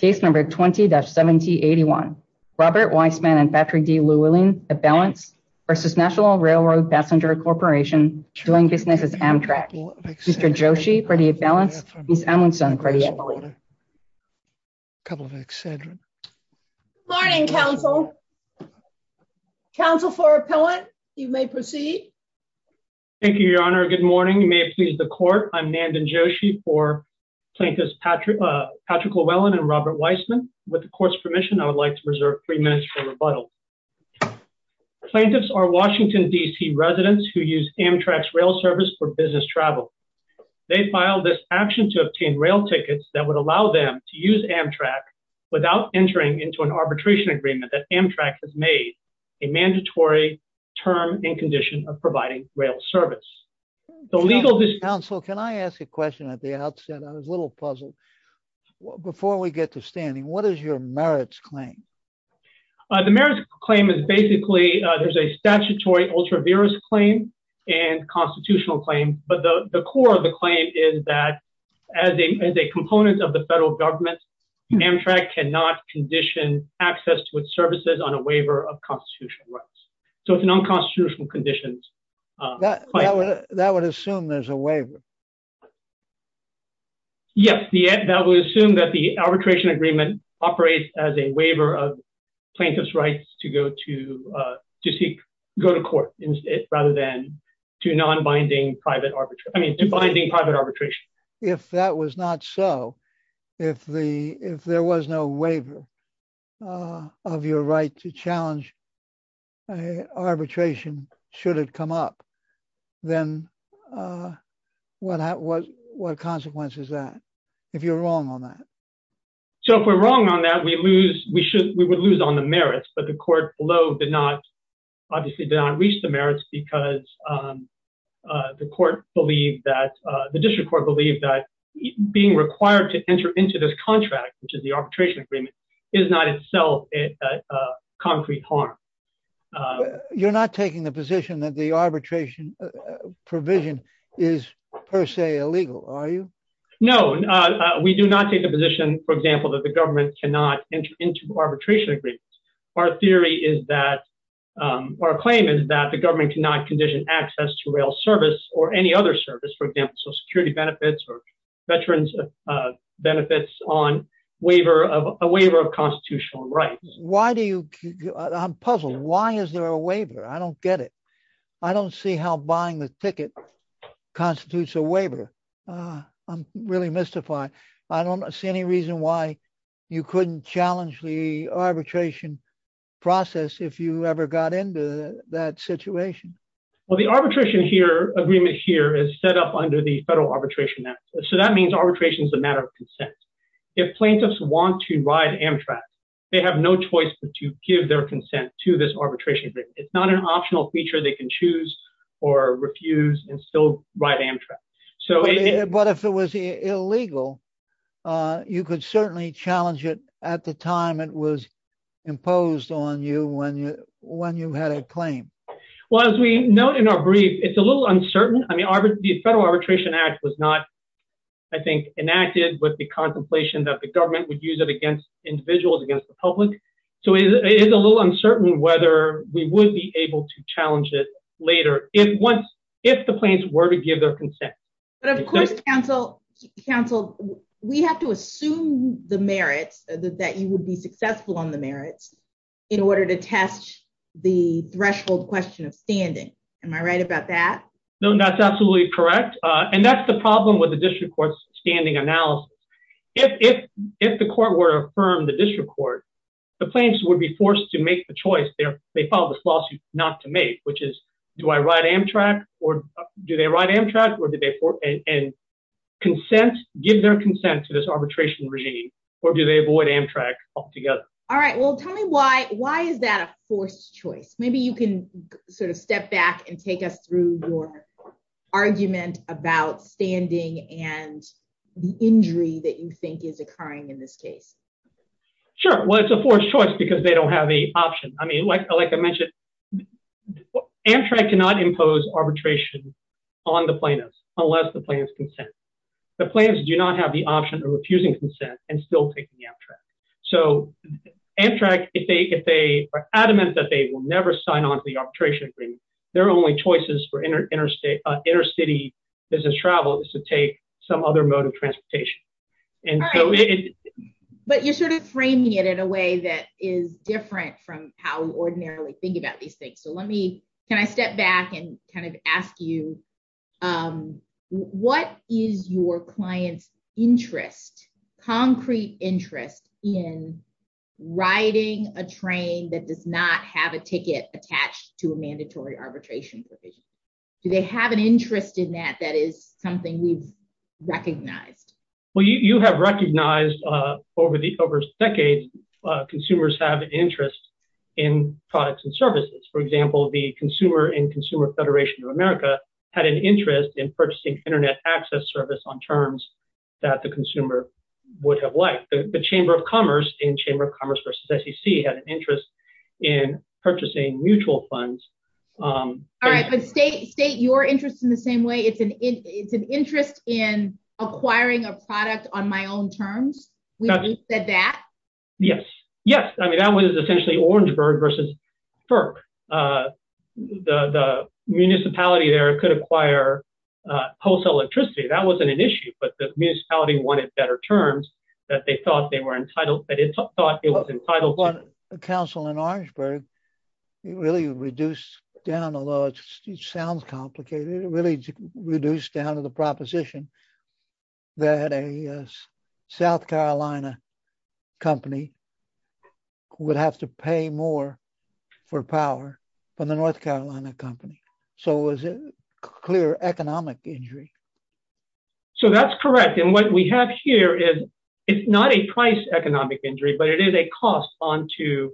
20-7081 Robert Weissman v. Nat'l Railroad Passenger Corp doing business as Amtrak Mr. Joshi v. Balance, Ms. Amundson v. Emily Good morning, counsel. Counsel for appellant, you may proceed. Thank you, your honor. Good morning. You may have pleased the court. I'm Nandan Joshi for Plaintiffs Patrick Llewellyn and Robert Weissman. With the court's permission, I would like to reserve three minutes for rebuttal. Plaintiffs are Washington, D.C. residents who use Amtrak's rail service for business travel. They filed this action to obtain rail tickets that would allow them to use Amtrak without entering into an arbitration agreement that Amtrak has made a mandatory term and condition of providing rail service. Counsel, can I ask a question at the outset on this little puzzle? Before we get to standing, what is your merits claim? The merits claim is basically there's a statutory ultra-virus claim and constitutional claim. But the core of the claim is that as a component of the federal government, Amtrak cannot condition access to its services on a waiver of constitutional rights. So it's a non-constitutional condition. That would assume there's a waiver. Yes, that would assume that the arbitration agreement operates as a waiver of plaintiff's rights to go to court rather than to non-binding private arbitration. If that was not so, if there was no waiver of your right to challenge arbitration should it come up, then what consequence is that if you're wrong on that? So if we're wrong on that, we would lose on the merits. But the court below obviously did not reach the merits because the district court believed that being required to enter into this contract, which is the arbitration agreement, is not itself a concrete harm. You're not taking the position that the arbitration provision is per se illegal, are you? No, we do not take the position, for example, that the government cannot enter into arbitration agreements. Our theory is that, our claim is that the government cannot condition access to rail service or any other service, for example, Social Security benefits or veterans benefits on a waiver of constitutional rights. Why do you, I'm puzzled. Why is there a waiver? I don't get it. I don't see how buying the ticket constitutes a waiver. I'm really mystified. I don't see any reason why you couldn't challenge the arbitration process if you ever got into that situation. Well, the arbitration agreement here is set up under the federal arbitration act. So that means arbitration is a matter of consent. If plaintiffs want to ride Amtrak, they have no choice but to give their consent to this arbitration. It's not an optional feature they can choose or refuse and still ride Amtrak. But if it was illegal, you could certainly challenge it at the time it was imposed on you when you had a claim. Well, as we note in our brief, it's a little uncertain. I mean, the federal arbitration act was not, I think, enacted with the contemplation that the government would use it against individuals, against the public. So it is a little uncertain whether we would be able to challenge it later if the plaintiffs were to give their consent. But of course, counsel, we have to assume the merits, that you would be successful on the merits, in order to test the threshold question of standing. Am I right about that? No, that's absolutely correct. And that's the problem with the district court's standing analysis. If the court were to affirm the district court, the plaintiffs would be forced to make the choice. They filed this lawsuit not to make, which is, do I ride Amtrak or do they ride Amtrak? And consent, give their consent to this arbitration regime, or do they avoid Amtrak altogether? All right. Well, tell me why. Why is that a forced choice? Maybe you can sort of step back and take us through your argument about standing and the injury that you think is occurring in this case. Sure. Well, it's a forced choice because they don't have a option. I mean, like I mentioned, Amtrak cannot impose arbitration on the plaintiffs unless the plaintiffs consent. The plaintiffs do not have the option of refusing consent and still taking Amtrak. So Amtrak, if they are adamant that they will never sign on to the arbitration agreement, their only choices for intercity business travel is to take some other mode of transportation. But you're sort of framing it in a way that is different from how we ordinarily think about these things. Can I step back and kind of ask you, what is your client's interest, concrete interest, in riding a train that does not have a ticket attached to a mandatory arbitration provision? Do they have an interest in that that is something we've recognized? Well, you have recognized over decades consumers have an interest in products and services. For example, the Consumer and Consumer Federation of America had an interest in purchasing Internet access service on terms that the consumer would have liked. The Chamber of Commerce and Chamber of Commerce versus SEC had an interest in purchasing mutual funds. All right. But state your interest in the same way. It's an interest in acquiring a product on my own terms. We said that. Yes. Yes. I mean, that was essentially Orangeburg versus FERC. The municipality there could acquire wholesale electricity. That wasn't an issue, but the municipality wanted better terms that they thought they were entitled to. The council in Orangeburg really reduced down, although it sounds complicated, it really reduced down to the proposition that a South Carolina company would have to pay more for power from the North Carolina company. So it was a clear economic injury. So that's correct. And what we have here is it's not a price economic injury, but it is a cost on to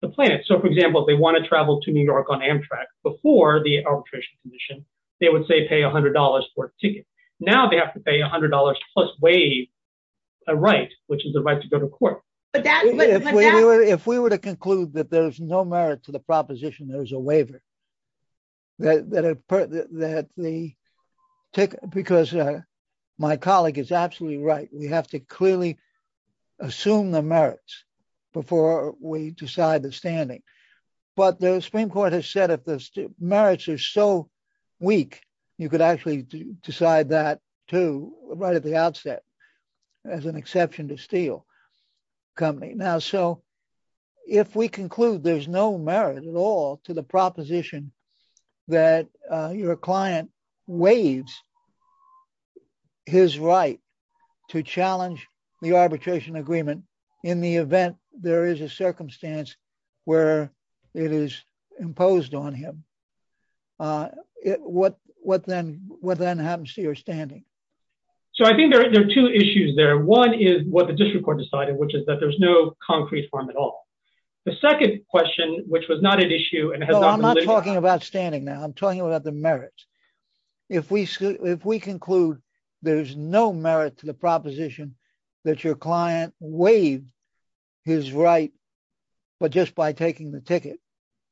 the planet. So, for example, if they want to travel to New York on Amtrak before the arbitration commission, they would say pay $100 for a ticket. Now they have to pay $100 plus waive a right, which is the right to go to court. If we were to conclude that there's no merit to the proposition, there's a waiver. Because my colleague is absolutely right. We have to clearly assume the merits before we decide the standing. But the Supreme Court has said if the merits are so weak, you could actually decide that too, right at the outset, as an exception to steal company. Now, so if we conclude there's no merit at all to the proposition that your client waives his right to challenge the arbitration agreement in the event there is a circumstance where it is imposed on him, what then happens to your standing? So I think there are two issues there. One is what the district court decided, which is that there's no concrete harm at all. The second question, which was not an issue and has not been limited. I'm not talking about standing now. I'm talking about the merits. If we conclude there's no merit to the proposition that your client waived his right, but just by taking the ticket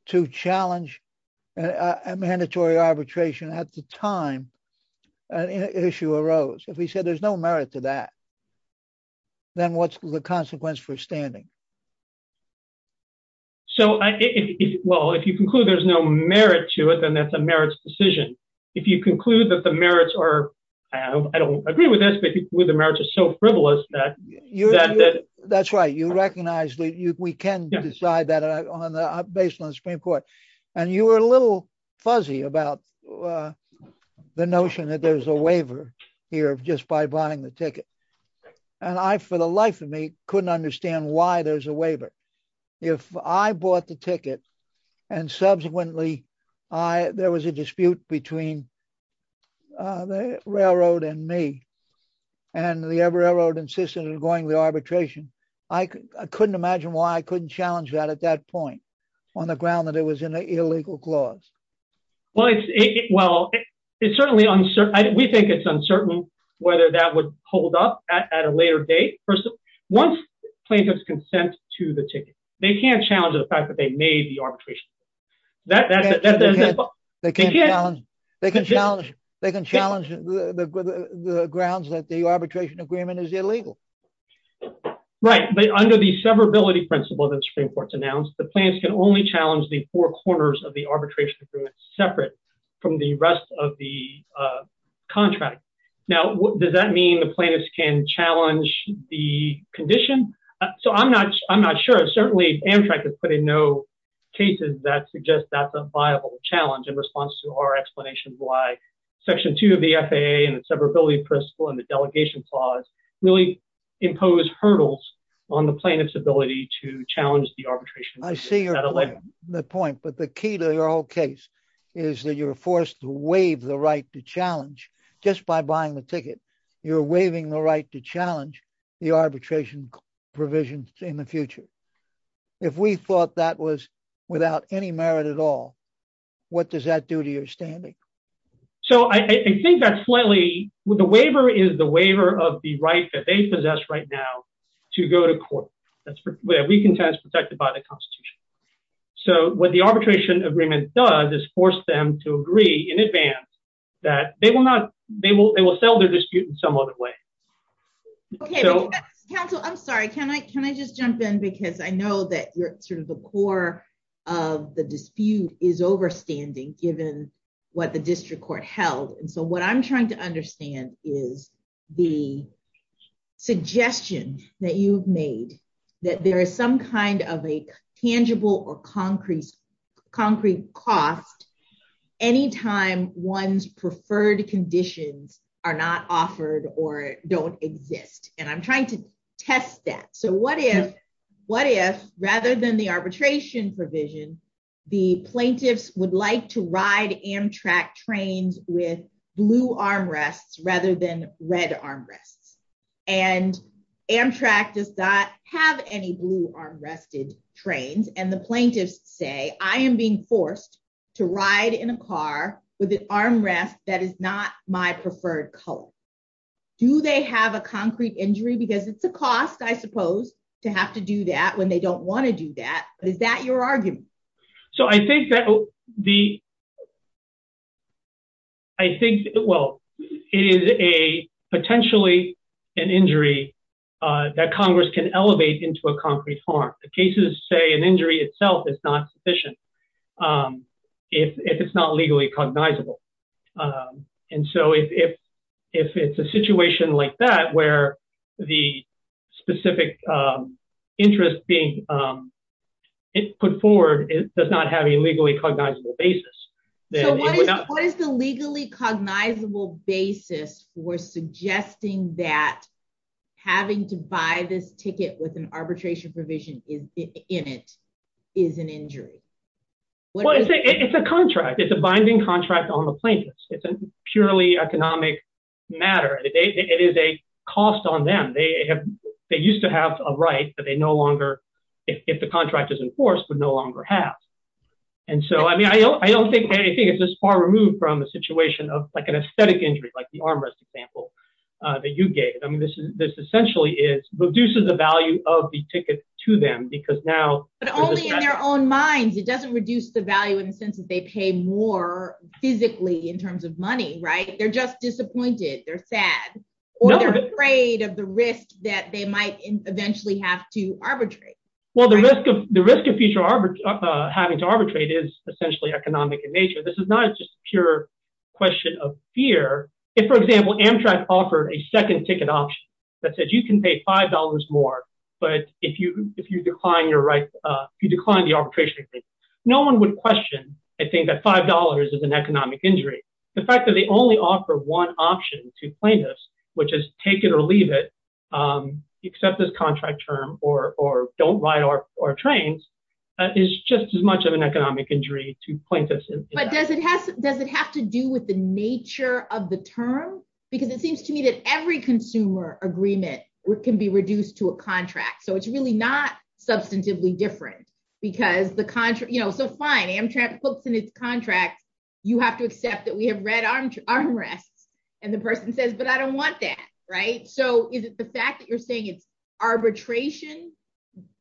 to challenge a mandatory arbitration at the time, an issue arose. If we said there's no merit to that, then what's the consequence for standing? So, well, if you conclude there's no merit to it, then that's a merits decision. If you conclude that the merits are, I don't agree with this, but the merits are so frivolous that... That's right. You recognize that we can decide that based on the Supreme Court. And you were a little fuzzy about the notion that there's a waiver here just by buying the ticket. And I, for the life of me, couldn't understand why there's a waiver. If I bought the ticket and subsequently there was a dispute between the railroad and me, and the railroad insisted on going to the arbitration, I couldn't imagine why I couldn't challenge that at that point on the ground that it was an illegal clause. Well, it's certainly uncertain. We think it's uncertain whether that would hold up at a later date. Once plaintiffs consent to the ticket, they can't challenge the fact that they made the arbitration. They can challenge the grounds that the arbitration agreement is illegal. Right. But under the severability principle that the Supreme Court's announced, the plaintiffs can only challenge the four corners of the arbitration agreement separate from the rest of the contract. Now, does that mean the plaintiffs can challenge the condition? So I'm not sure. Certainly, Amtrak has put in no cases that suggest that's a viable challenge in response to our explanations why Section 2 of the FAA and the severability principle and the delegation clause really impose hurdles on the plaintiff's ability to challenge the arbitration. I see the point. But the key to your whole case is that you're forced to waive the right to challenge. Just by buying the ticket, you're waiving the right to challenge the arbitration provisions in the future. If we thought that was without any merit at all, what does that do to your standing? So I think that's slightly... The waiver is the waiver of the right that they possess right now to go to court. That's where we can tell it's protected by the Constitution. So what the arbitration agreement does is force them to agree in advance that they will not... They will settle their dispute in some other way. Okay. Counsel, I'm sorry. Can I just jump in? Because I know that you're sort of the core of the dispute is overstanding, given what the district court held. And so what I'm trying to understand is the suggestion that you've made that there is some kind of a tangible or concrete cost anytime one's preferred conditions are not offered or don't exist. And I'm trying to test that. So what if rather than the arbitration provision, the plaintiffs would like to ride Amtrak trains with blue armrests rather than red armrests? And Amtrak does not have any blue armrested trains. And the plaintiffs say, I am being forced to ride in a car with an armrest that is not my preferred color. Do they have a concrete injury? Because it's a cost, I suppose, to have to do that when they don't want to do that. But is that your argument? So I think that the... I think, well, it is a potentially an injury that Congress can elevate into a concrete harm. The cases say an injury itself is not sufficient if it's not legally cognizable. And so if it's a situation like that, where the specific interest being put forward does not have a legally cognizable basis... So what is the legally cognizable basis for suggesting that having to buy this ticket with an arbitration provision in it is an injury? Well, it's a contract. It's a binding contract on the plaintiffs. It's a purely economic matter. It is a cost on them. They used to have a right that they no longer, if the contract is enforced, would no longer have. And so, I mean, I don't think anything is this far removed from a situation of like an aesthetic injury, like the armrest example that you gave. I mean, this essentially reduces the value of the ticket to them because now... In their own minds, it doesn't reduce the value in the sense that they pay more physically in terms of money, right? They're just disappointed. They're sad. Or they're afraid of the risk that they might eventually have to arbitrate. Well, the risk of having to arbitrate is essentially economic in nature. This is not just a pure question of fear. If, for example, Amtrak offered a second ticket option that said you can pay $5 more, but if you decline the arbitration agreement, no one would question, I think, that $5 is an economic injury. The fact that they only offer one option to plaintiffs, which is take it or leave it, accept this contract term, or don't ride our trains, is just as much of an economic injury to plaintiffs. But does it have to do with the nature of the term? Because it seems to me that every consumer agreement can be reduced to a contract, so it's really not substantively different. So fine, Amtrak puts in its contract, you have to accept that we have red armrests, and the person says, but I don't want that, right? So is it the fact that you're saying it's arbitration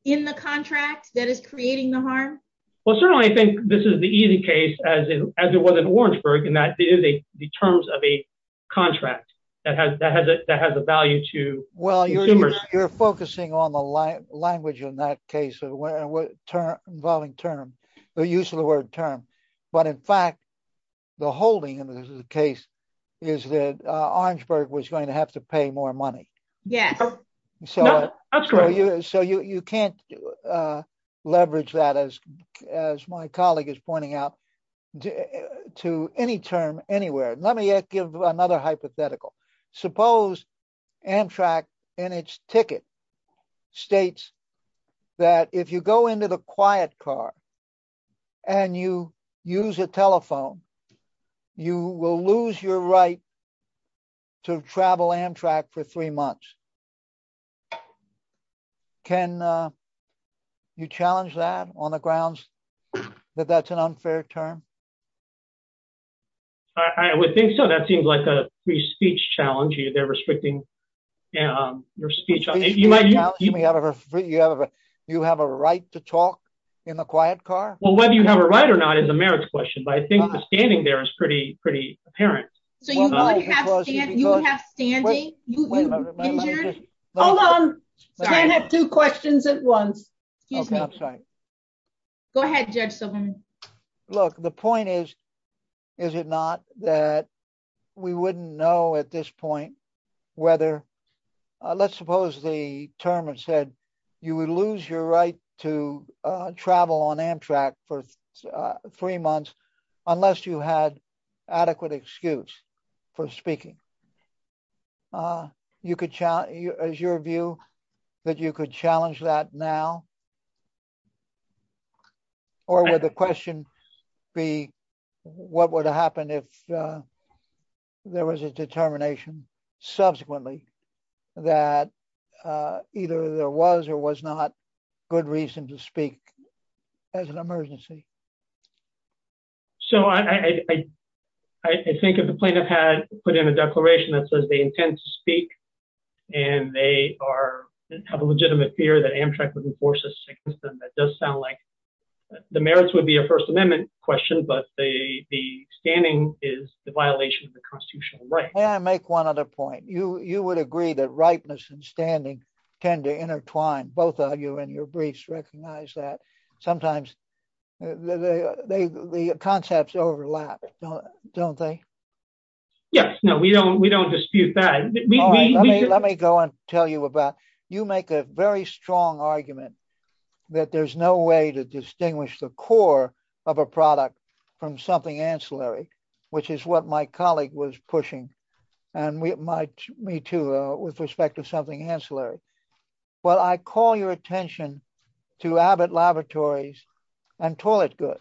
in the contract that is creating the harm? Well, certainly I think this is the easy case, as it was in Orangeburg, in that it is the terms of a contract that has a value to consumers. Well, you're focusing on the language in that case involving term, the use of the word term. But in fact, the holding in this case is that Orangeburg was going to have to pay more money. Yeah, that's correct. So you can't leverage that, as my colleague is pointing out, to any term anywhere. Let me give another hypothetical. Suppose Amtrak in its ticket states that if you go into the quiet car and you use a telephone, you will lose your right to travel Amtrak for three months. Can you challenge that on the grounds that that's an unfair term? I would think so. That seems like a free speech challenge. They're restricting your speech. You have a right to talk in the quiet car? Well, whether you have a right or not is a merits question, but I think the standing there is pretty apparent. So you would have standing? Hold on. I have two questions at once. Excuse me. Go ahead, Judge Silverman. Look, the point is, is it not that we wouldn't know at this point whether, let's suppose the term had said you would lose your right to travel on Amtrak for three months unless you had adequate excuse for speaking. Is your view that you could challenge that now? Or would the question be, what would happen if there was a determination subsequently that either there was or was not good reason to speak as an emergency? So I think if the plaintiff had put in a declaration that says they intend to speak and they have a legitimate fear that Amtrak would enforce this against them, that does sound like the merits would be a First Amendment question, but the standing is the violation of the constitutional right. May I make one other point? You would agree that rightness and standing tend to intertwine. Both of you in your briefs recognize that. Sometimes the concepts overlap, don't they? Yes. No, we don't. We don't dispute that. Let me go and tell you about, you make a very strong argument that there's no way to distinguish the core of a product from something ancillary, which is what my colleague was pushing. And me too, with respect to something ancillary. Well, I call your attention to Abbott Laboratories and toilet goods.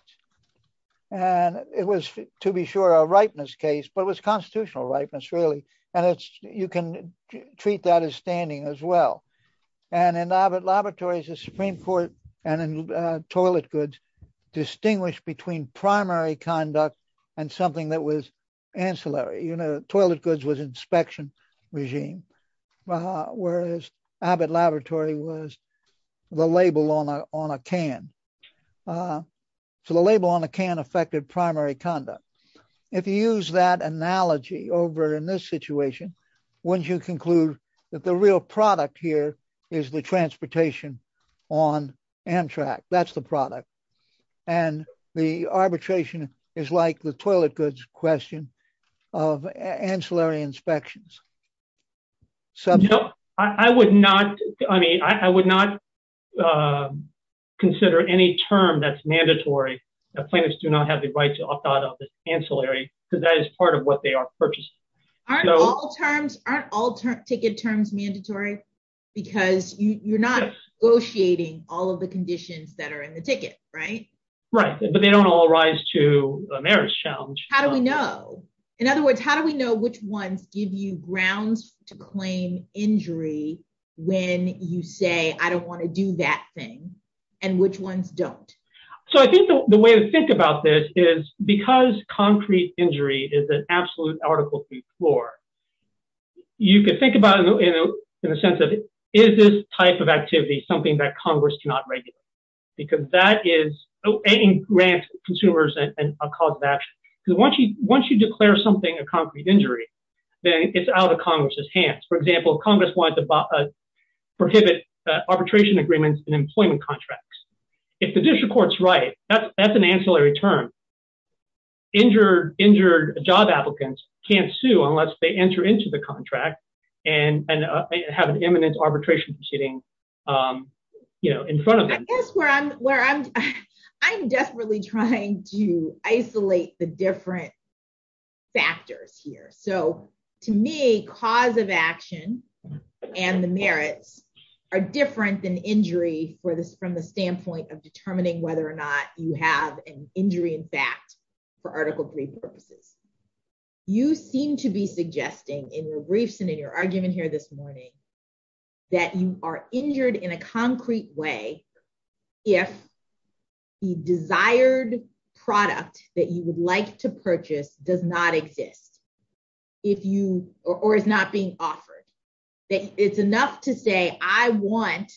And it was, to be sure, a rightness case, but it was constitutional rightness, really. And you can treat that as standing as well. And in Abbott Laboratories, the Supreme Court and in toilet goods distinguished between primary conduct and something that was ancillary. Toilet goods was inspection regime, whereas Abbott Laboratory was the label on a can. So the label on a can affected primary conduct. If you use that analogy over in this situation, wouldn't you conclude that the real product here is the transportation on Amtrak? That's the product. And the arbitration is like the toilet goods question of ancillary inspections. I would not, I mean, I would not consider any term that's mandatory. Plaintiffs do not have the right to opt out of the ancillary because that is part of what they are purchasing. Aren't all terms, aren't all ticket terms mandatory because you're not negotiating all of the conditions that are in the ticket, right? Right. But they don't all rise to a marriage challenge. How do we know? In other words, how do we know which ones give you grounds to claim injury when you say, I don't want to do that thing and which ones don't? So I think the way to think about this is because concrete injury is an absolute article three floor. You could think about it in the sense of is this type of activity something that Congress cannot regulate because that is a grant to consumers and a cause of action. Because once you once you declare something a concrete injury, then it's out of Congress's hands. For example, Congress wants to prohibit arbitration agreements and employment contracts. If the district court's right, that's an ancillary term. Injured, injured job applicants can't sue unless they enter into the contract and have an imminent arbitration proceeding in front of them. That's where I'm where I'm I'm desperately trying to isolate the different factors here. So to me, cause of action and the merits are different than injury for this from the standpoint of determining whether or not you have an injury, in fact, for Article three purposes. You seem to be suggesting in your briefs and in your argument here this morning. That you are injured in a concrete way. If the desired product that you would like to purchase does not exist, if you or is not being offered, it's enough to say I want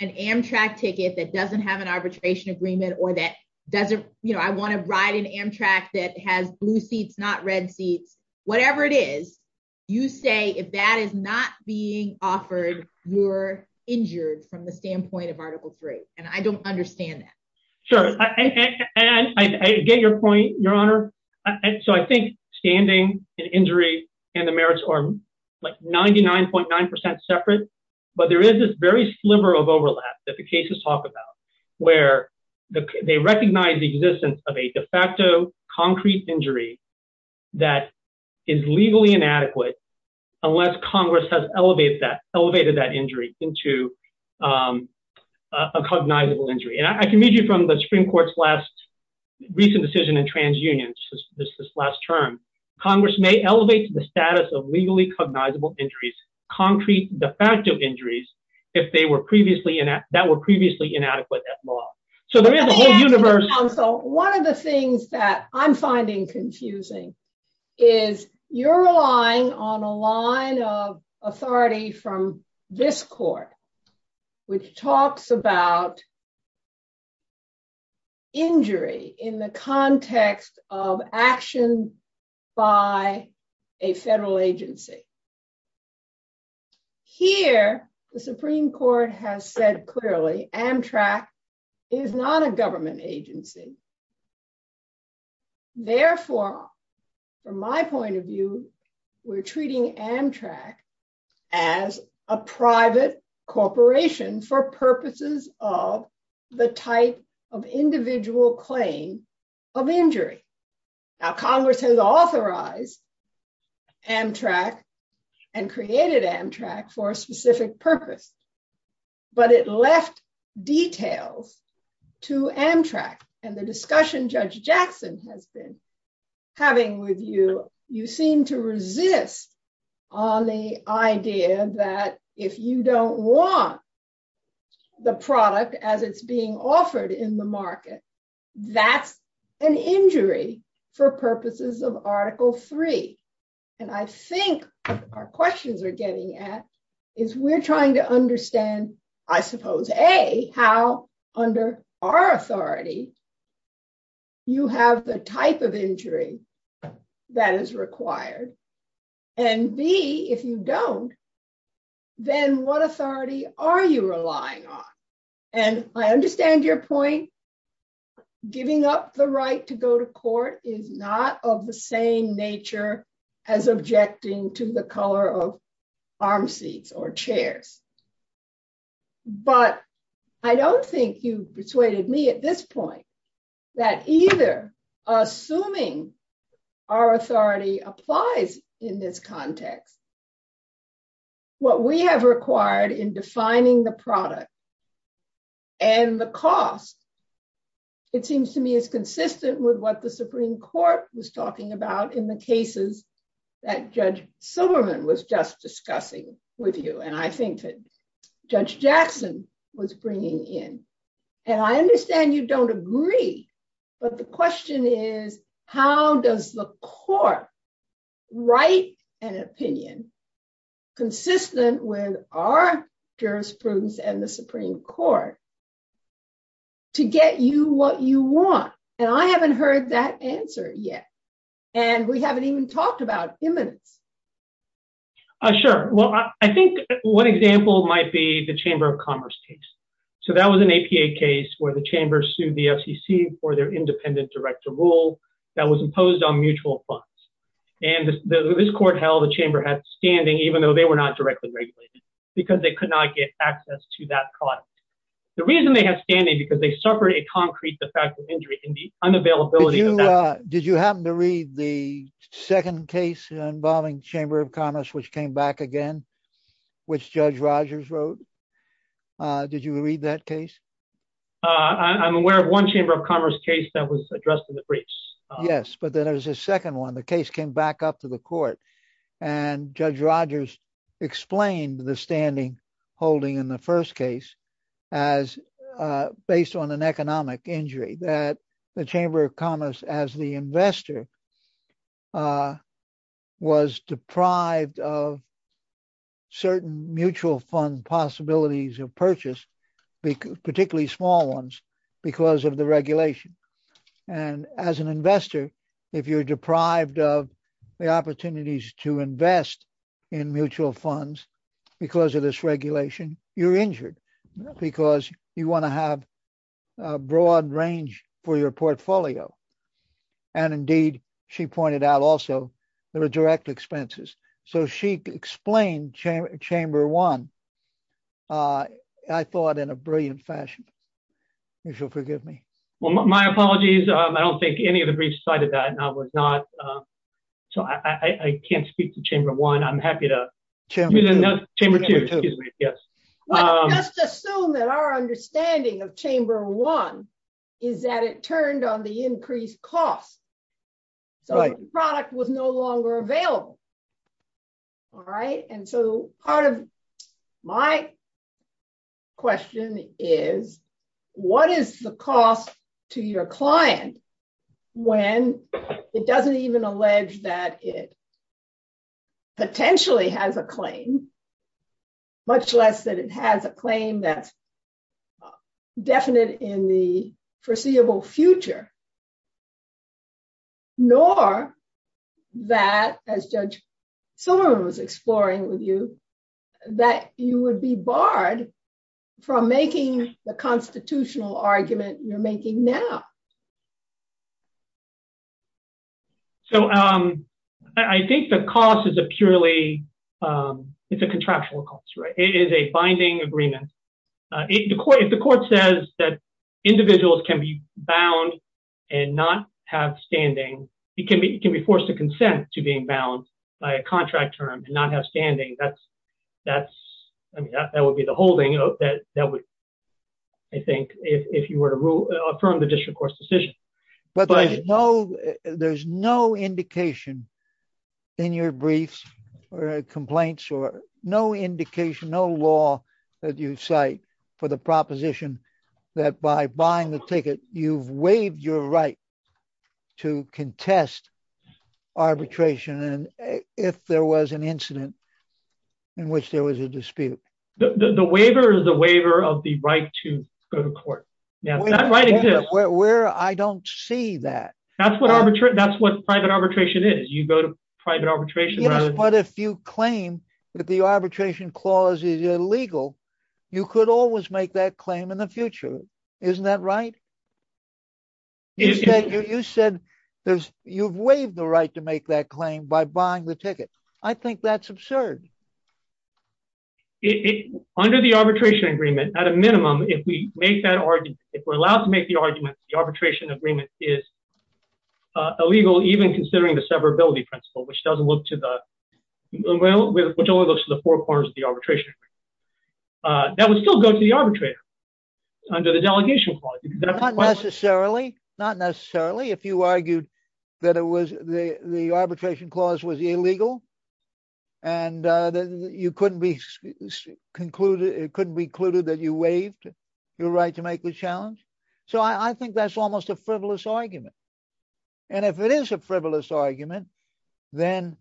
an Amtrak ticket that doesn't have an arbitration agreement or that doesn't. You know, I want to ride an Amtrak that has blue seats, not red seats, whatever it is you say. If that is not being offered, you're injured from the standpoint of Article three. And I don't understand that. Sure. And I get your point, Your Honor. So I think standing injury and the merits are like 99.9% separate, but there is this very sliver of overlap that the cases talk about where they recognize the existence of a de facto concrete injury that is legally inadequate. Unless Congress has elevated that injury into a cognizable injury. And I can read you from the Supreme Court's last recent decision in trans unions, this last term. Congress may elevate the status of legally cognizable injuries, concrete de facto injuries, if that were previously inadequate at law. So one of the things that I'm finding confusing is you're relying on a line of authority from this court, which talks about injury in the context of action by a federal agency. Here, the Supreme Court has said clearly Amtrak is not a government agency. Therefore, from my point of view, we're treating Amtrak as a private corporation for purposes of the type of individual claim of injury. Now Congress has authorized Amtrak and created Amtrak for a specific purpose, but it left details to Amtrak. And the discussion Judge Jackson has been having with you, you seem to resist on the idea that if you don't want the product as it's being offered in the market, that's an injury for purposes of Article 3. And I think our questions are getting at is we're trying to understand, I suppose, A, how under our authority, you have the type of injury that is required, and B, if you don't, then what authority are you relying on? And I understand your point. Giving up the right to go to court is not of the same nature as objecting to the color of arm seats or chairs. But I don't think you've persuaded me at this point that either, assuming our authority applies in this context, what we have required in defining the product and the cost, it seems to me is consistent with what the Supreme Court was talking about in the cases that Judge Silberman was just discussing with you. And I think that Judge Jackson was bringing in. And I understand you don't agree, but the question is, how does the court write an opinion consistent with our jurisprudence and the Supreme Court to get you what you want? And I haven't heard that answer yet. And we haven't even talked about imminence. Sure. Well, I think one example might be the Chamber of Commerce case. So that was an APA case where the Chamber sued the FCC for their independent director rule that was imposed on mutual funds. And this court held the Chamber had standing, even though they were not directly regulated, because they could not get access to that product. The reason they have standing is because they suffered a concrete de facto injury in the unavailability of that product. And did you happen to read the second case involving Chamber of Commerce, which came back again, which Judge Rogers wrote? Did you read that case? I'm aware of one Chamber of Commerce case that was addressed in the briefs. Yes, but then there's a second one. The case came back up to the court. And Judge Rogers explained the standing holding in the first case as based on an economic injury that the Chamber of Commerce, as the investor, was deprived of certain mutual fund possibilities of purchase, particularly small ones, because of the regulation. And as an investor, if you're deprived of the opportunities to invest in mutual funds because of this regulation, you're injured because you want to have a broad range for your portfolio. And indeed, she pointed out also, there are direct expenses. So she explained Chamber 1, I thought, in a brilliant fashion. If you'll forgive me. My apologies. I don't think any of the briefs cited that. So I can't speak to Chamber 1. I'm happy to... Chamber 2. Let's just assume that our understanding of Chamber 1 is that it turned on the increased cost. So the product was no longer available. All right. And so part of my question is, what is the cost to your client when it doesn't even allege that it potentially has a claim, much less that it has a claim that's definite in the foreseeable future? Nor that, as Judge Silverman was exploring with you, that you would be barred from making the constitutional argument you're making now. So I think the cost is a purely, it's a contractual cost. It is a binding agreement. If the court says that individuals can be bound and not have standing, it can be forced to consent to being bound by a contract term and not have standing. That would be the holding that would, I think, if you were to affirm the district court's decision. But there's no indication in your briefs or complaints or no indication, no law that you cite for the proposition that by buying the ticket, you've waived your right to contest arbitration. And if there was an incident in which there was a dispute. The waiver is the waiver of the right to go to court. Where I don't see that. That's what private arbitration is. You go to private arbitration. But if you claim that the arbitration clause is illegal, you could always make that claim in the future. Isn't that right? You said there's, you've waived the right to make that claim by buying the ticket. I think that's absurd. Under the arbitration agreement, at a minimum, if we make that argument, if we're allowed to make the argument, the arbitration agreement is illegal, even considering the severability principle, which doesn't look to the, which only looks to the four corners of the arbitration. That would still go to the arbitrator under the delegation clause. Not necessarily, not necessarily. If you argued that it was the, the arbitration clause was illegal. And you couldn't be concluded, it couldn't be concluded that you waived your right to make the challenge. So I think that's almost a frivolous argument. And if it is a frivolous argument, then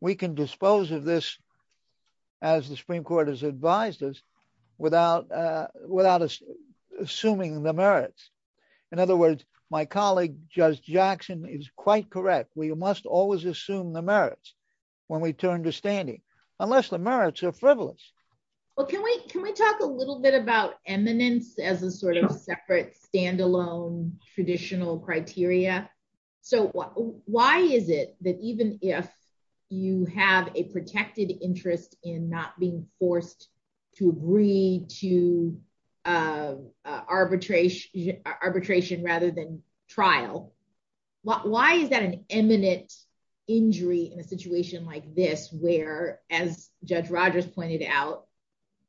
we can dispose of this as the Supreme Court has advised us without, without assuming the merits. In other words, my colleague, Judge Jackson is quite correct. We must always assume the merits when we turn to standing, unless the merits are frivolous. Well, can we, can we talk a little bit about eminence as a sort of separate standalone traditional criteria. So why is it that even if you have a protected interest in not being forced to read to arbitration, arbitration rather than trial. Why is that an eminent injury in a situation like this, where, as Judge Rogers pointed out,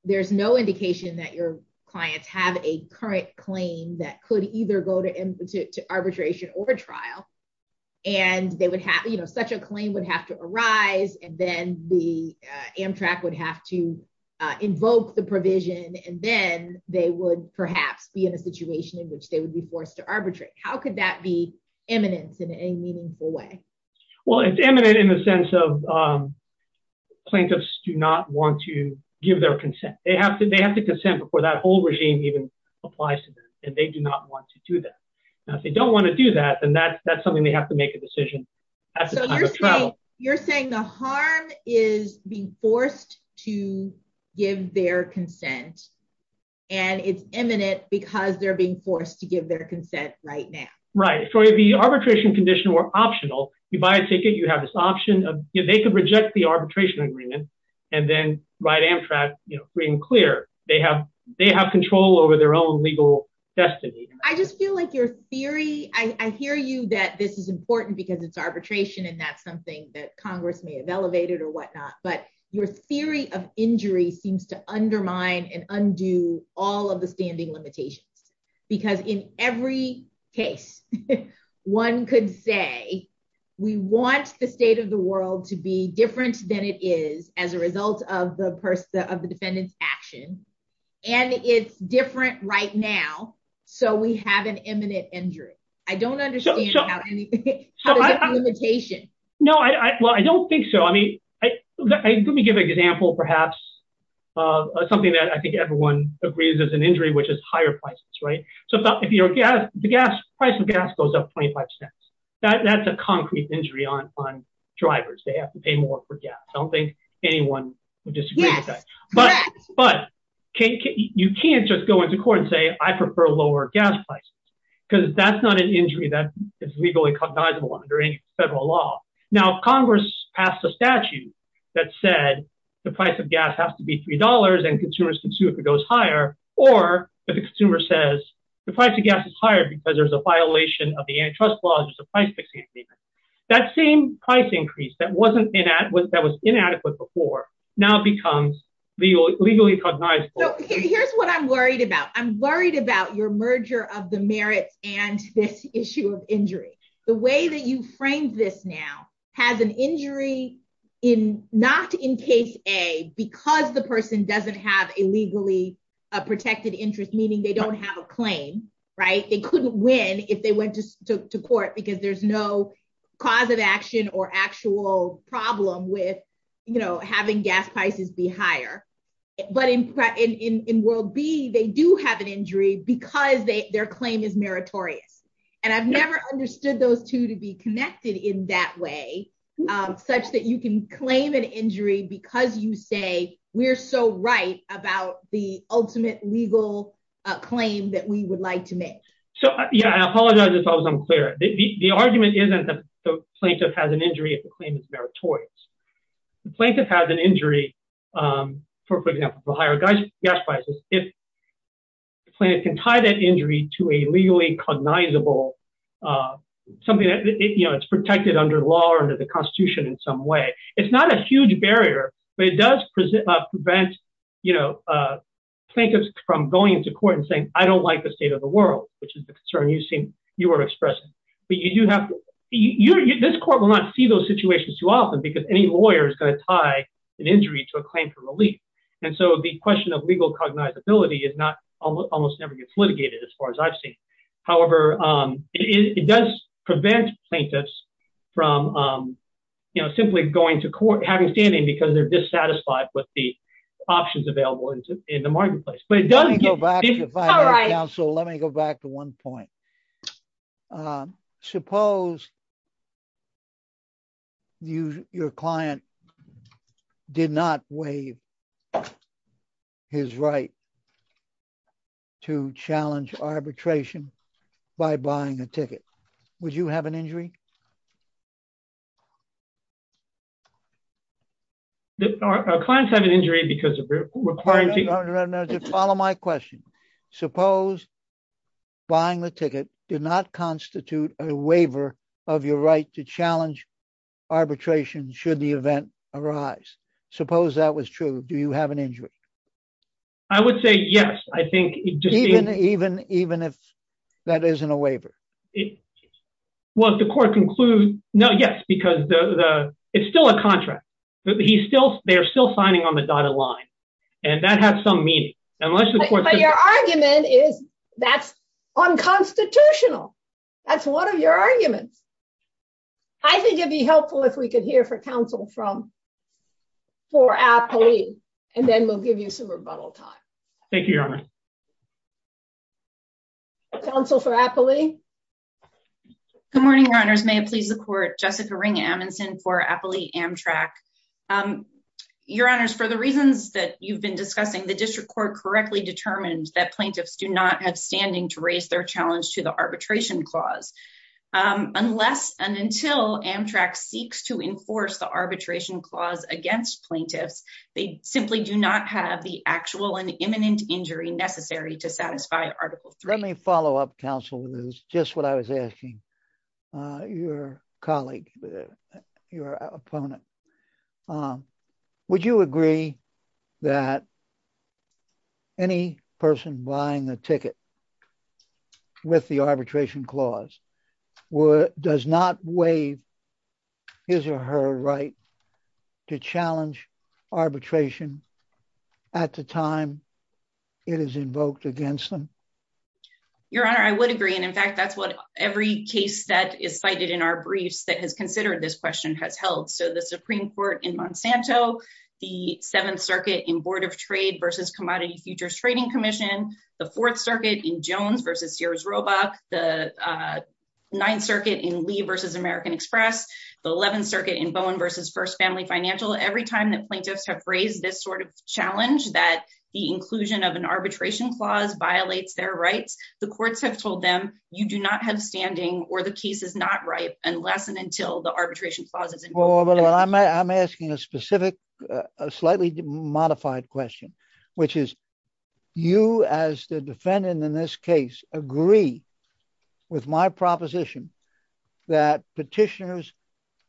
there's no indication that your clients have a current claim that could either go to arbitration or trial. And they would have, you know, such a claim would have to arise and then the Amtrak would have to invoke the provision and then they would perhaps be in a situation in which they would be forced to arbitrate. How could that be eminence in any meaningful way? Well, it's eminent in the sense of plaintiffs do not want to give their consent. They have to, they have to consent before that whole regime even applies to them and they do not want to do that. Now, if they don't want to do that, then that's, that's something they have to make a decision at the time of trial. You're saying the harm is being forced to give their consent and it's eminent because they're being forced to give their consent right now. Right. So the arbitration condition were optional. You buy a ticket, you have this option of, they could reject the arbitration agreement and then write Amtrak, you know, free and clear. They have, they have control over their own legal destiny. I just feel like your theory, I hear you that this is important because it's arbitration and that's something that Congress may have elevated or whatnot, but your theory of injury seems to undermine and undo all of the standing limitations. Because in every case, one could say, we want the state of the world to be different than it is as a result of the person, of the defendant's action. And it's different right now. So we have an eminent injury. I don't understand how there's a limitation. No, I don't think so. I mean, let me give an example, perhaps something that I think everyone agrees is an injury, which is higher prices, right? So if you're gas, the gas price of gas goes up 25 cents. That's a concrete injury on drivers. They have to pay more for gas. I don't think anyone would disagree with that. But you can't just go into court and say, I prefer lower gas prices, because that's not an injury that is legally cognizable under any federal law. Now, Congress passed a statute that said the price of gas has to be $3 and consumers can sue if it goes higher. Or if a consumer says the price of gas is higher because there's a violation of the antitrust law and there's a price fixing agreement. That same price increase that was inadequate before now becomes legally cognizable. So here's what I'm worried about. I'm worried about your merger of the merits and this issue of injury. The way that you framed this now has an injury not in case A because the person doesn't have a legally protected interest, meaning they don't have a claim, right? They couldn't win if they went to court because there's no cause of action or actual problem with having gas prices be higher. But in World B, they do have an injury because their claim is meritorious. And I've never understood those two to be connected in that way, such that you can claim an injury because you say we're so right about the ultimate legal claim that we would like to make. So, yeah, I apologize if I was unclear. The argument isn't that the plaintiff has an injury if the claim is meritorious. The plaintiff has an injury, for example, for higher gas prices if the plaintiff can tie that injury to a legally cognizable, something that, you know, it's protected under law or under the Constitution in some way. It's not a huge barrier, but it does prevent, you know, plaintiffs from going to court and saying, I don't like the state of the world, which is the concern you were expressing. But you do have to, this court will not see those situations too often because any lawyer is going to tie an injury to a claim for relief. And so the question of legal cognizability is not, almost never gets litigated as far as I've seen. However, it does prevent plaintiffs from, you know, simply going to court, having standing because they're dissatisfied with the options available in the marketplace. Let me go back to one point. Suppose your client did not waive his right to challenge arbitration by buying a ticket. Would you have an injury? Our clients have an injury because of requiring... Follow my question. Suppose buying the ticket did not constitute a waiver of your right to challenge arbitration should the event arise. Suppose that was true. Do you have an injury? I would say yes. I think... Well, if the court concludes, no, yes, because it's still a contract. He's still, they're still signing on the dotted line. And that has some meaning. But your argument is that's unconstitutional. That's one of your arguments. I think it'd be helpful if we could hear for counsel from, for Apolline, and then we'll give you some rebuttal time. Counsel for Apolline. Good morning, Your Honors. May it please the court, Jessica Ring Amundson for Apolline Amtrak. Your Honors, for the reasons that you've been discussing, the district court correctly determined that plaintiffs do not have standing to raise their challenge to the arbitration clause. Unless and until Amtrak seeks to enforce the arbitration clause against plaintiffs, they simply do not have the actual and imminent injury necessary to satisfy Article 3. Let me follow up, counsel, with just what I was asking your colleague, your opponent. Would you agree that any person buying the ticket with the arbitration clause does not waive his or her right to challenge arbitration at the time it is invoked against them? Your Honor, I would agree. And in fact, that's what every case that is cited in our briefs that has considered this question has held. So the Supreme Court in Monsanto, the Seventh Circuit in Board of Trade versus Commodity Futures Trading Commission, the Fourth Circuit in Jones versus Sears Roebuck, the Ninth Circuit in Lee versus American Express, the Eleventh Circuit in Bowen versus First Family Financial. Every time that plaintiffs have raised this sort of challenge that the inclusion of an arbitration clause violates their rights, the courts have told them you do not have standing or the case is not ripe unless and until the arbitration clause is invoked. I'm asking a specific, slightly modified question, which is you as the defendant in this case agree with my proposition that petitioners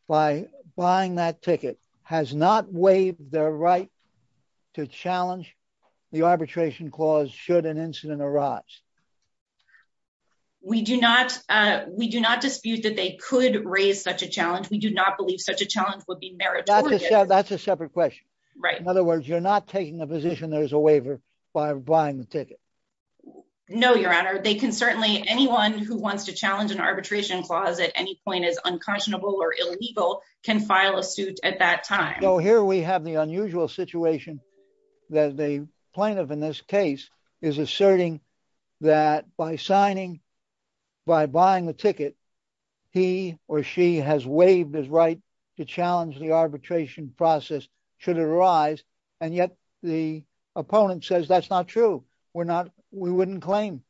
by buying that ticket has not waived their right to challenge the arbitration clause should an incident arise? We do not. We do not dispute that they could raise such a challenge. We do not believe such a challenge would be meritorious. That's a separate question. Right. In other words, you're not taking a position there is a waiver by buying the ticket. No, Your Honor. They can certainly anyone who wants to challenge an arbitration clause at any point is unconscionable or illegal can file a suit at that time. So here we have the unusual situation that the plaintiff in this case is asserting that by signing, by buying the ticket, he or she has waived his right to challenge the arbitration process should it arise. And yet the opponent says that's not true. We're not. We wouldn't claim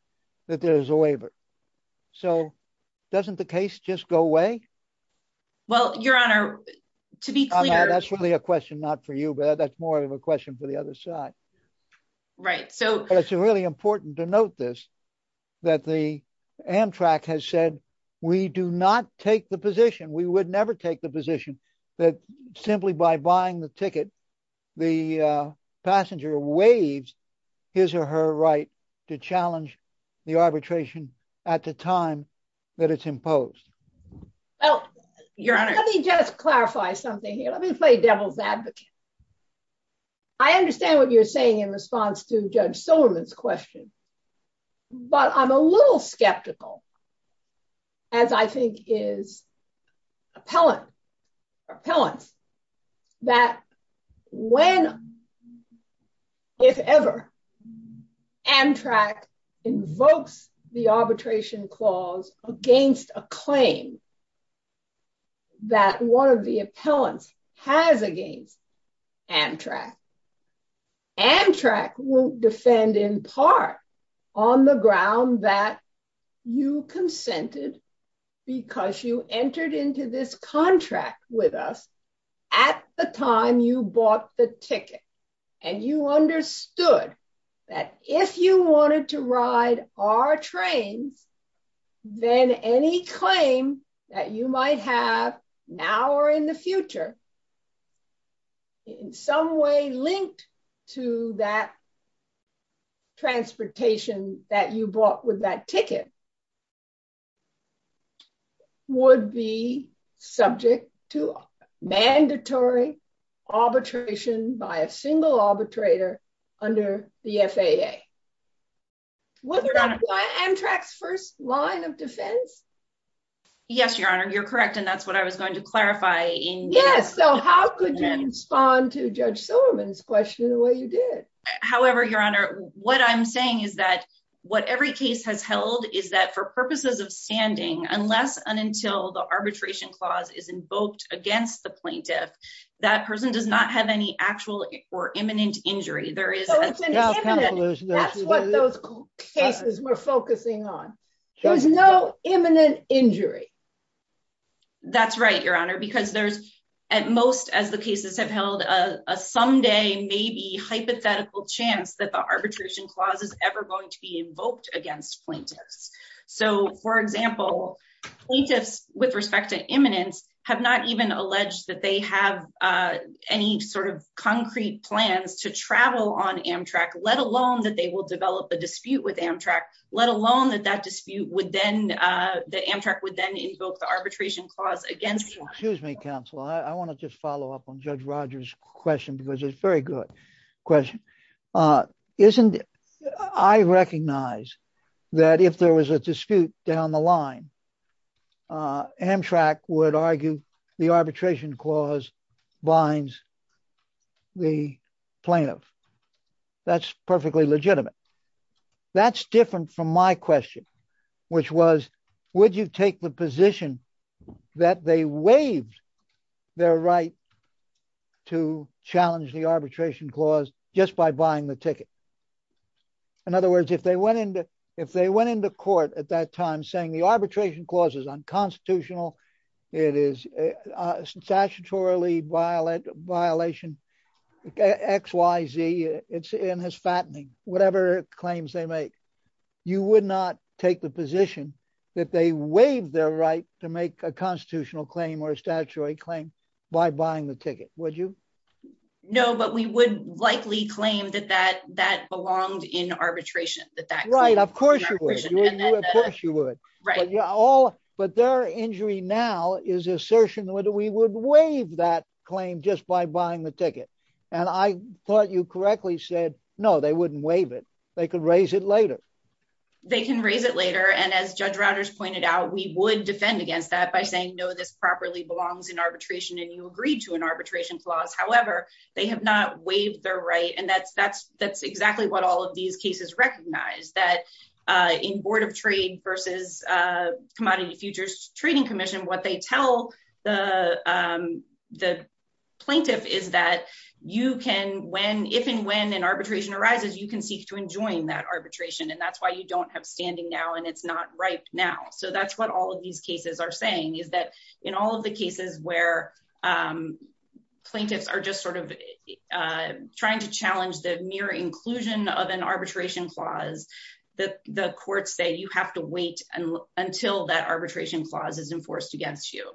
that there is a waiver. So doesn't the case just go away? Well, Your Honor, to be clear. That's really a question not for you, but that's more of a question for the other side. Right. So it's really important to note this, that the Amtrak has said we do not take the position, we would never take the position that simply by buying the ticket, the passenger waives his or her right to challenge the arbitration at the time that it's imposed. Well, Your Honor, let me just clarify something here. Let me play devil's advocate. I understand what you're saying in response to Judge Silverman's question, but I'm a little skeptical, as I think is appellant, or appellants, that when, if ever, Amtrak invokes the arbitration clause against a claim that one of the appellants has against Amtrak, Amtrak will defend in part on the ground that you consented because you entered into this contract with us at the time you bought the ticket. And you understood that if you wanted to ride our trains, then any claim that you might have now or in the future, in some way linked to that transportation that you bought with that ticket, would be subject to mandatory arbitration by a single arbitrator under the FAA. Was that Amtrak's first line of defense? Yes, Your Honor, you're correct. And that's what I was going to clarify. Yes, so how could you respond to Judge Silverman's question the way you did? However, Your Honor, what I'm saying is that what every case has held is that for purposes of standing, unless and until the arbitration clause is invoked against the plaintiff, that person does not have any actual or imminent injury. That's what those cases were focusing on. There's no imminent injury. That's right, Your Honor, because there's at most as the cases have held a someday maybe hypothetical chance that the arbitration clause is ever going to be invoked against plaintiffs. So, for example, plaintiffs with respect to imminence have not even alleged that they have any sort of concrete plans to travel on Amtrak, let alone that they will develop a dispute with Amtrak, let alone that that dispute would then, that Amtrak would then invoke the arbitration clause against them. Excuse me, counsel, I want to just follow up on Judge Rogers' question, because it's a very good question. I recognize that if there was a dispute down the line, Amtrak would argue the arbitration clause binds the plaintiff. That's perfectly legitimate. That's different from my question, which was, would you take the position that they waived their right to challenge the arbitration clause just by buying the ticket? In other words, if they went into, if they went into court at that time saying the arbitration clause is unconstitutional, it is a statutory violation, X, Y, Z, and has fattening, whatever claims they make, you would not take the position that they waived their right to make a constitutional claim or a statutory claim by buying the ticket, would you? No, but we would likely claim that that belonged in arbitration. Right, of course you would. Of course you would. But their injury now is assertion that we would waive that claim just by buying the ticket. And I thought you correctly said, no, they wouldn't waive it. They could raise it later. They can raise it later. And as Judge Routers pointed out, we would defend against that by saying, no, this properly belongs in arbitration and you agreed to an arbitration clause. However, they have not waived their right, and that's exactly what all of these cases recognize, that in Board of Trade versus Commodity Futures Trading Commission, what they tell the plaintiff is that you can, if and when an arbitration arises, you can seek to enjoin that arbitration, and that's why you don't have standing now and it's not right now. So that's what all of these cases are saying, is that in all of the cases where plaintiffs are just sort of trying to challenge the mere inclusion of an arbitration clause, the courts say you have to wait until that arbitration clause is enforced against you.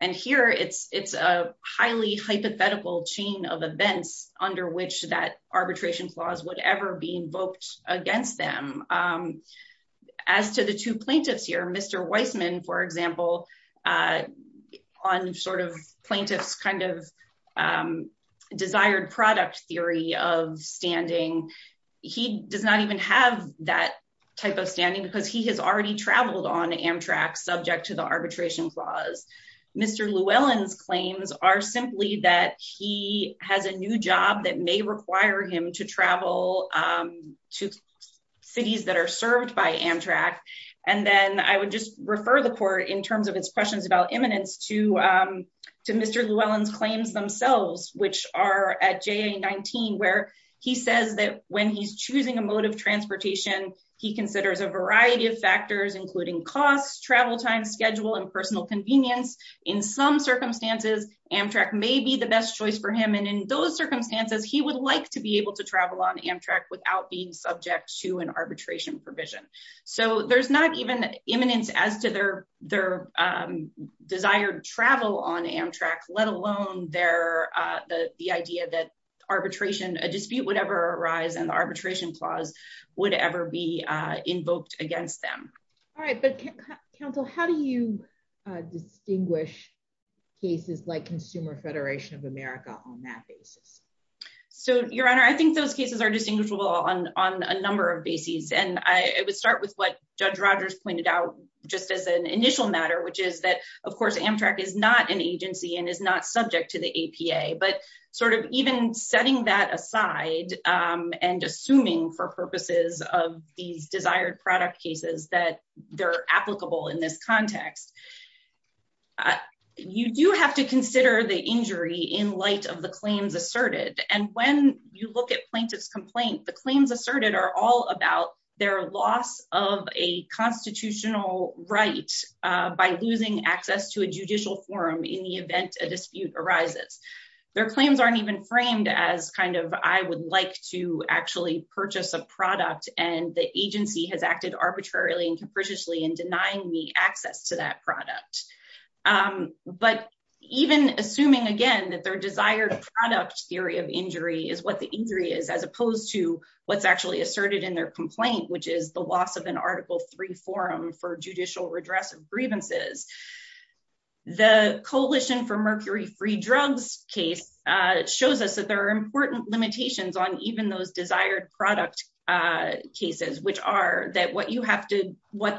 And here it's a highly hypothetical chain of events under which that arbitration clause would ever be invoked against them. As to the two plaintiffs here, Mr. Weissman, for example, on sort of plaintiff's kind of desired product theory of standing, he does not even have that type of standing because he has already traveled on Amtrak subject to the arbitration clause. Mr. Llewellyn's claims are simply that he has a new job that may require him to travel to cities that are served by Amtrak. And then I would just refer the court in terms of its questions about eminence to Mr. Llewellyn's claims themselves, which are at JA-19, where he says that when he's choosing a mode of transportation, he considers a variety of factors, including costs, travel time, schedule, and personal convenience. In some circumstances, Amtrak may be the best choice for him. And in those circumstances, he would like to be able to travel on Amtrak without being subject to an arbitration provision. So there's not even eminence as to their desired travel on Amtrak, let alone the idea that a dispute would ever arise and the arbitration clause would ever be invoked against them. All right. But counsel, how do you distinguish cases like Consumer Federation of America on that basis? So, Your Honor, I think those cases are distinguishable on a number of bases. And I would start with what Judge Rogers pointed out just as an initial matter, which is that, of course, Amtrak is not an agency and is not subject to the APA. But sort of even setting that aside and assuming for purposes of these desired product cases that they're applicable in this context, you do have to consider the injury in light of the claims asserted. And when you look at plaintiff's complaint, the claims asserted are all about their loss of a constitutional right by losing access to a judicial forum in the event a dispute arises. Their claims aren't even framed as kind of I would like to actually purchase a product and the agency has acted arbitrarily and capriciously in denying me access to that product. But even assuming, again, that their desired product theory of injury is what the injury is, as opposed to what's actually asserted in their complaint, which is the loss of an Article 3 forum for judicial redress of grievances. The Coalition for Mercury-Free Drugs case shows us that there are important limitations on even those desired product cases, which are that what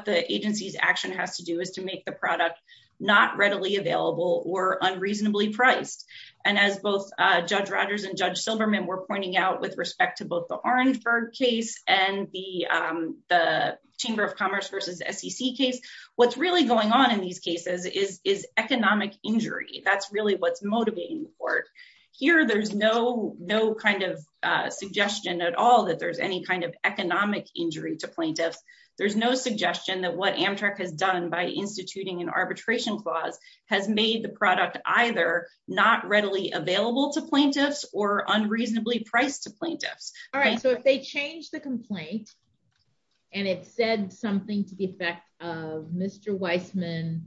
the agency's action has to do is to make the product not readily available or unreasonably priced. And as both Judge Rogers and Judge Silverman were pointing out with respect to both the Orangeburg case and the Chamber of Commerce v. SEC case, what's really going on in these cases is economic injury. That's really what's motivating the court. Here, there's no kind of suggestion at all that there's any kind of economic injury to plaintiffs. There's no suggestion that what Amtrak has done by instituting an arbitration clause has made the product either not readily available to plaintiffs or unreasonably priced to plaintiffs. All right, so if they change the complaint and it said something to the effect of Mr. Weissman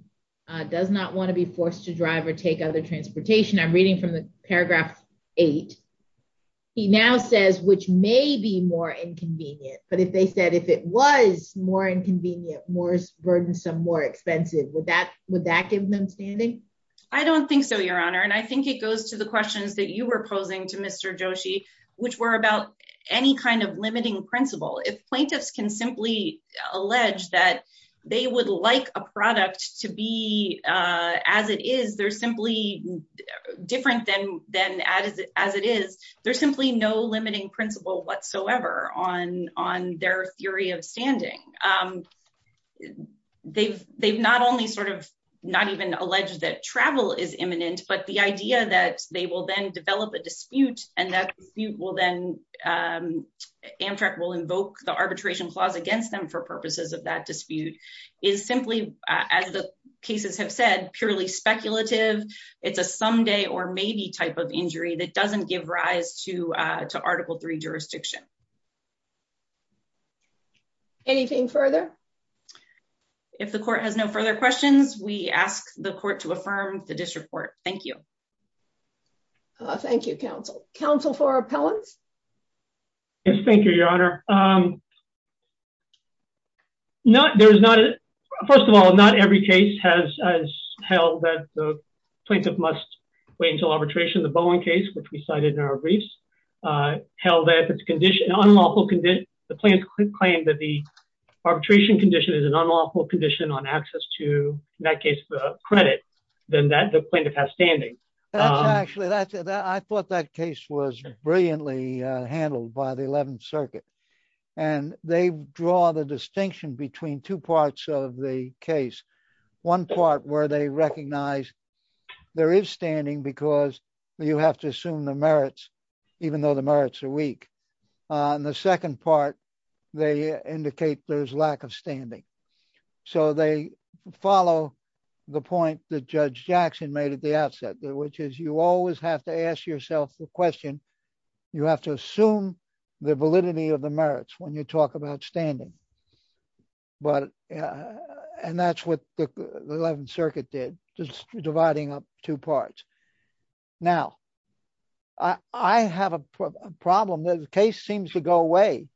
does not want to be forced to drive or take other transportation, I'm reading from the paragraph 8, he now says, which may be more inconvenient. But if they said if it was more inconvenient, more burdensome, more expensive, would that give them standing? I don't think so, Your Honor, and I think it goes to the questions that you were posing to Mr. Joshi, which were about any kind of limiting principle. If plaintiffs can simply allege that they would like a product to be as it is, they're simply different than as it is, there's simply no limiting principle whatsoever on their theory of standing. They've not only sort of not even alleged that travel is imminent, but the idea that they will then develop a dispute and that dispute will then Amtrak will invoke the arbitration clause against them for purposes of that dispute is simply, as the cases have said, purely speculative. It's a someday or maybe type of injury that doesn't give rise to Article III jurisdiction. Anything further? If the court has no further questions, we ask the court to affirm the disreport. Thank you. Thank you, counsel. Counsel for appellants? Thank you, Your Honor. Your Honor, first of all, not every case has held that the plaintiff must wait until arbitration. The Bowen case, which we cited in our briefs, held that if the plaintiff could claim that the arbitration condition is an unlawful condition on access to, in that case, credit, then the plaintiff has standing. I thought that case was brilliantly handled by the 11th Circuit. And they draw the distinction between two parts of the case. One part where they recognize there is standing because you have to assume the merits, even though the merits are weak. And the second part, they indicate there's lack of standing. So they follow the point that Judge Jackson made at the outset, which is you always have to ask yourself the question. You have to assume the validity of the merits when you talk about standing. And that's what the 11th Circuit did, just dividing up two parts. Now, I have a problem. The case seems to go away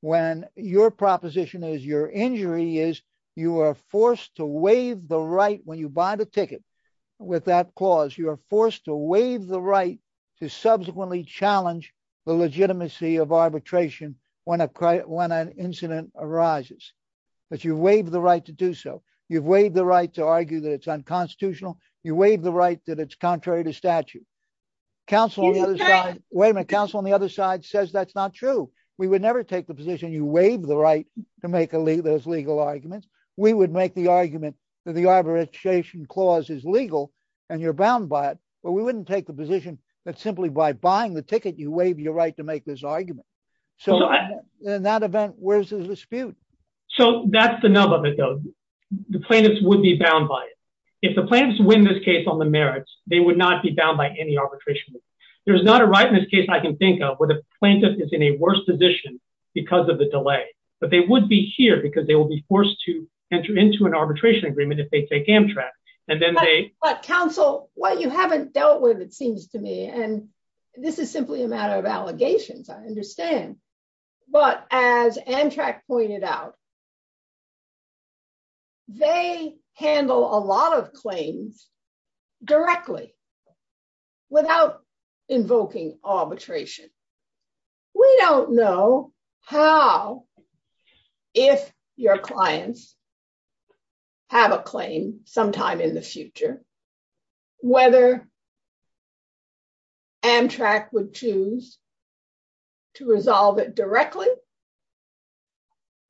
when your proposition is your injury is you are forced to waive the right when you buy the ticket. With that clause, you are forced to waive the right to subsequently challenge the legitimacy of arbitration when an incident arises. But you waive the right to do so. You waive the right to argue that it's unconstitutional. You waive the right that it's contrary to statute. Wait a minute, counsel on the other side says that's not true. We would never take the position you waive the right to make those legal arguments. We would make the argument that the arbitration clause is legal and you're bound by it. But we wouldn't take the position that simply by buying the ticket, you waive your right to make this argument. So in that event, where's the dispute? So that's the nub of it, though. The plaintiffs would be bound by it. If the plaintiffs win this case on the merits, they would not be bound by any arbitration. There's not a right in this case I can think of where the plaintiff is in a worse position because of the delay. But they would be here because they will be forced to enter into an arbitration agreement if they take Amtrak. But counsel, what you haven't dealt with, it seems to me, and this is simply a matter of allegations, I understand. But as Amtrak pointed out, they handle a lot of claims directly without invoking arbitration. We don't know how, if your clients have a claim sometime in the future, whether Amtrak would choose to resolve it directly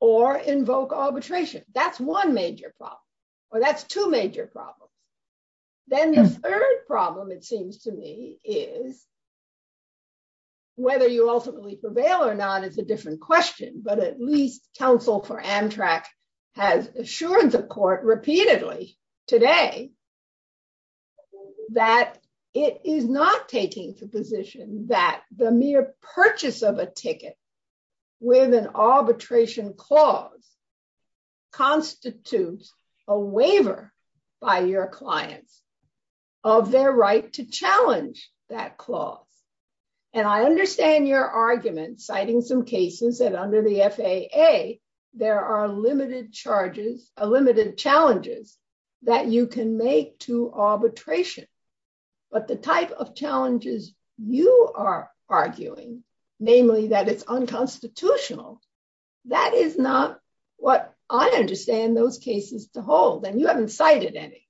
or invoke arbitration. That's one major problem. Or that's two major problems. Then the third problem, it seems to me, is whether you ultimately prevail or not is a different question. But at least counsel for Amtrak has assured the court repeatedly today that it is not taking the position that the mere purchase of a ticket with an arbitration clause constitutes a waiver by your clients of their right to challenge that clause. And I understand your argument citing some cases that under the FAA, there are limited charges, limited challenges that you can make to arbitration. But the type of challenges you are arguing, namely that it's unconstitutional, that is not what I understand those cases to hold. And you haven't cited any.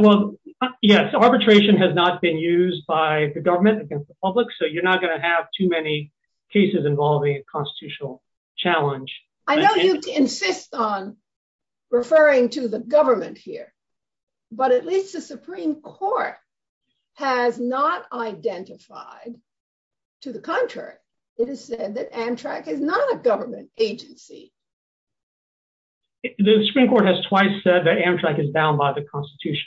Well, yes, arbitration has not been used by the government against the public, so you're not going to have too many cases involving a constitutional challenge. I know you insist on referring to the government here, but at least the Supreme Court has not identified, to the contrary, it is said that Amtrak is not a government agency. The Supreme Court has twice said that Amtrak is bound by the Constitution.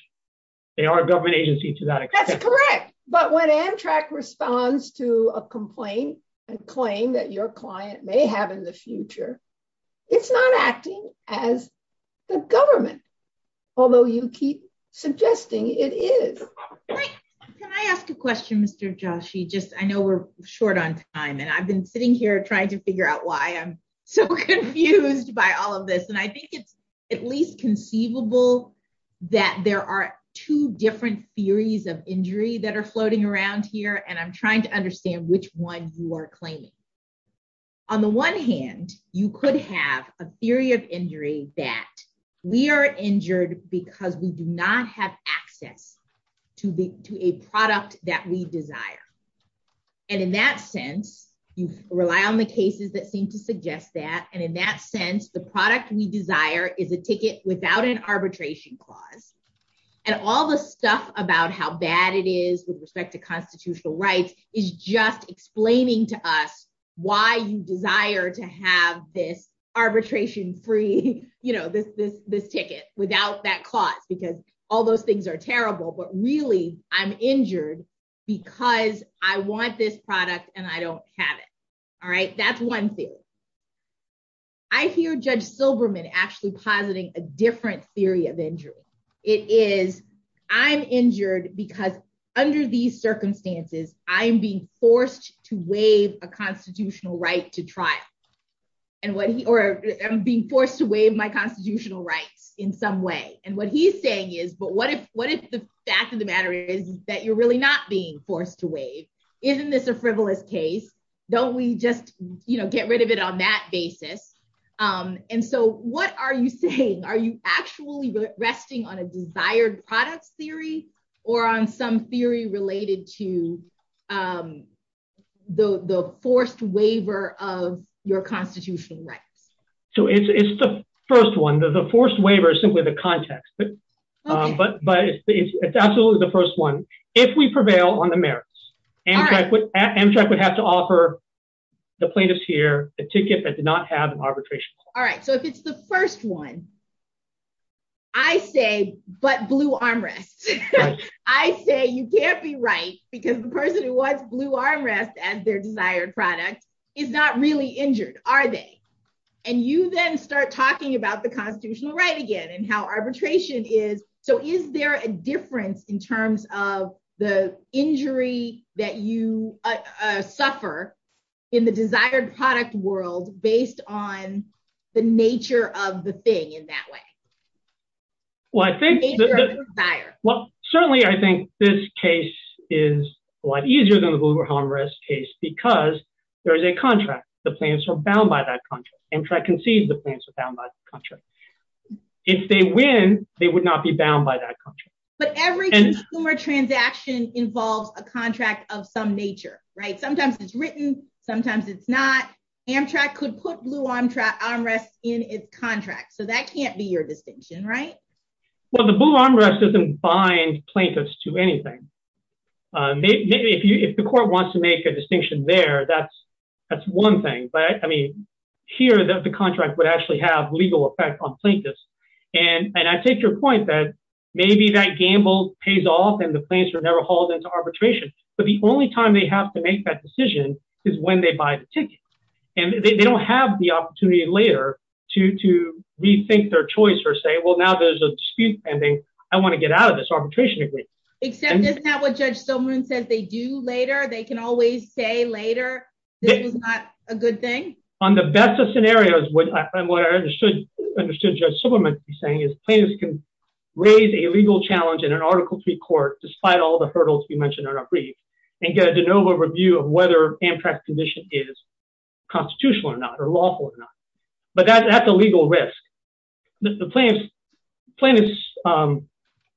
They are a government agency to that extent. That's correct. But when Amtrak responds to a complaint and claim that your client may have in the future, it's not acting as the government, although you keep suggesting it is. Can I ask a question, Mr. Joshi? Just I know we're short on time and I've been sitting here trying to figure out why I'm so confused by all of this. And I think it's at least conceivable that there are two different theories of injury that are floating around here. And I'm trying to understand which one you are claiming. On the one hand, you could have a theory of injury that we are injured because we do not have access to a product that we desire. And in that sense, you rely on the cases that seem to suggest that. And in that sense, the product we desire is a ticket without an arbitration clause. And all the stuff about how bad it is with respect to constitutional rights is just explaining to us why you desire to have this arbitration free, you know, this this this ticket without that clause, because all those things are terrible. But really, I'm injured because I want this product and I don't have it. All right. That's one thing. I hear Judge Silberman actually positing a different theory of injury. It is I'm injured because under these circumstances, I'm being forced to waive a constitutional right to trial. And what he or I'm being forced to waive my constitutional rights in some way. And what he's saying is, but what if what if the fact of the matter is that you're really not being forced to waive? Isn't this a frivolous case? Don't we just get rid of it on that basis? And so what are you saying? Are you actually resting on a desired products theory or on some theory related to the forced waiver of your constitutional rights? So it's the first one that the forced waiver is simply the context. But but but it's absolutely the first one. If we prevail on the merits, Amtrak would have to offer the plaintiffs here a ticket that did not have arbitration. All right. So if it's the first one. I say, but blue armrests. I say you can't be right because the person who was blue armrests as their desired product is not really injured, are they? And you then start talking about the constitutional right again and how arbitration is. So is there a difference in terms of the injury that you suffer in the desired product world based on the nature of the thing in that way? Well, I think. Well, certainly, I think this case is a lot easier than the blue armrest case because there is a contract. The plans are bound by that contract. Amtrak concedes the plans are bound by the contract. If they win, they would not be bound by that contract. But every consumer transaction involves a contract of some nature. Right. Sometimes it's written. Sometimes it's not. Amtrak could put blue armrests in its contract. So that can't be your distinction, right? Well, the blue armrest doesn't bind plaintiffs to anything. If you if the court wants to make a distinction there, that's that's one thing. But I mean, here, the contract would actually have legal effect on plaintiffs. And I take your point that maybe that gamble pays off and the plans are never hauled into arbitration. But the only time they have to make that decision is when they buy the ticket. And they don't have the opportunity later to to rethink their choice or say, well, now there's a dispute pending. I want to get out of this arbitration agreement. Except it's not what Judge Silberman says they do later. They can always say later, this is not a good thing. On the best of scenarios. What I understood, understood Judge Silberman saying is plaintiffs can raise a legal challenge in an article three court, despite all the hurdles we mentioned in our brief, and get a de novo review of whether Amtrak's condition is constitutional or not or lawful or not. But that's a legal risk. The plaintiffs,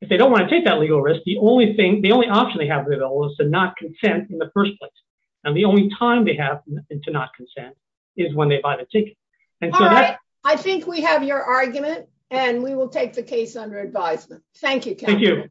if they don't want to take that legal risk, the only thing, the only option they have is to not consent in the first place. And the only time they have to not consent is when they buy the ticket. I think we have your argument and we will take the case under advisement. Thank you. Thank you.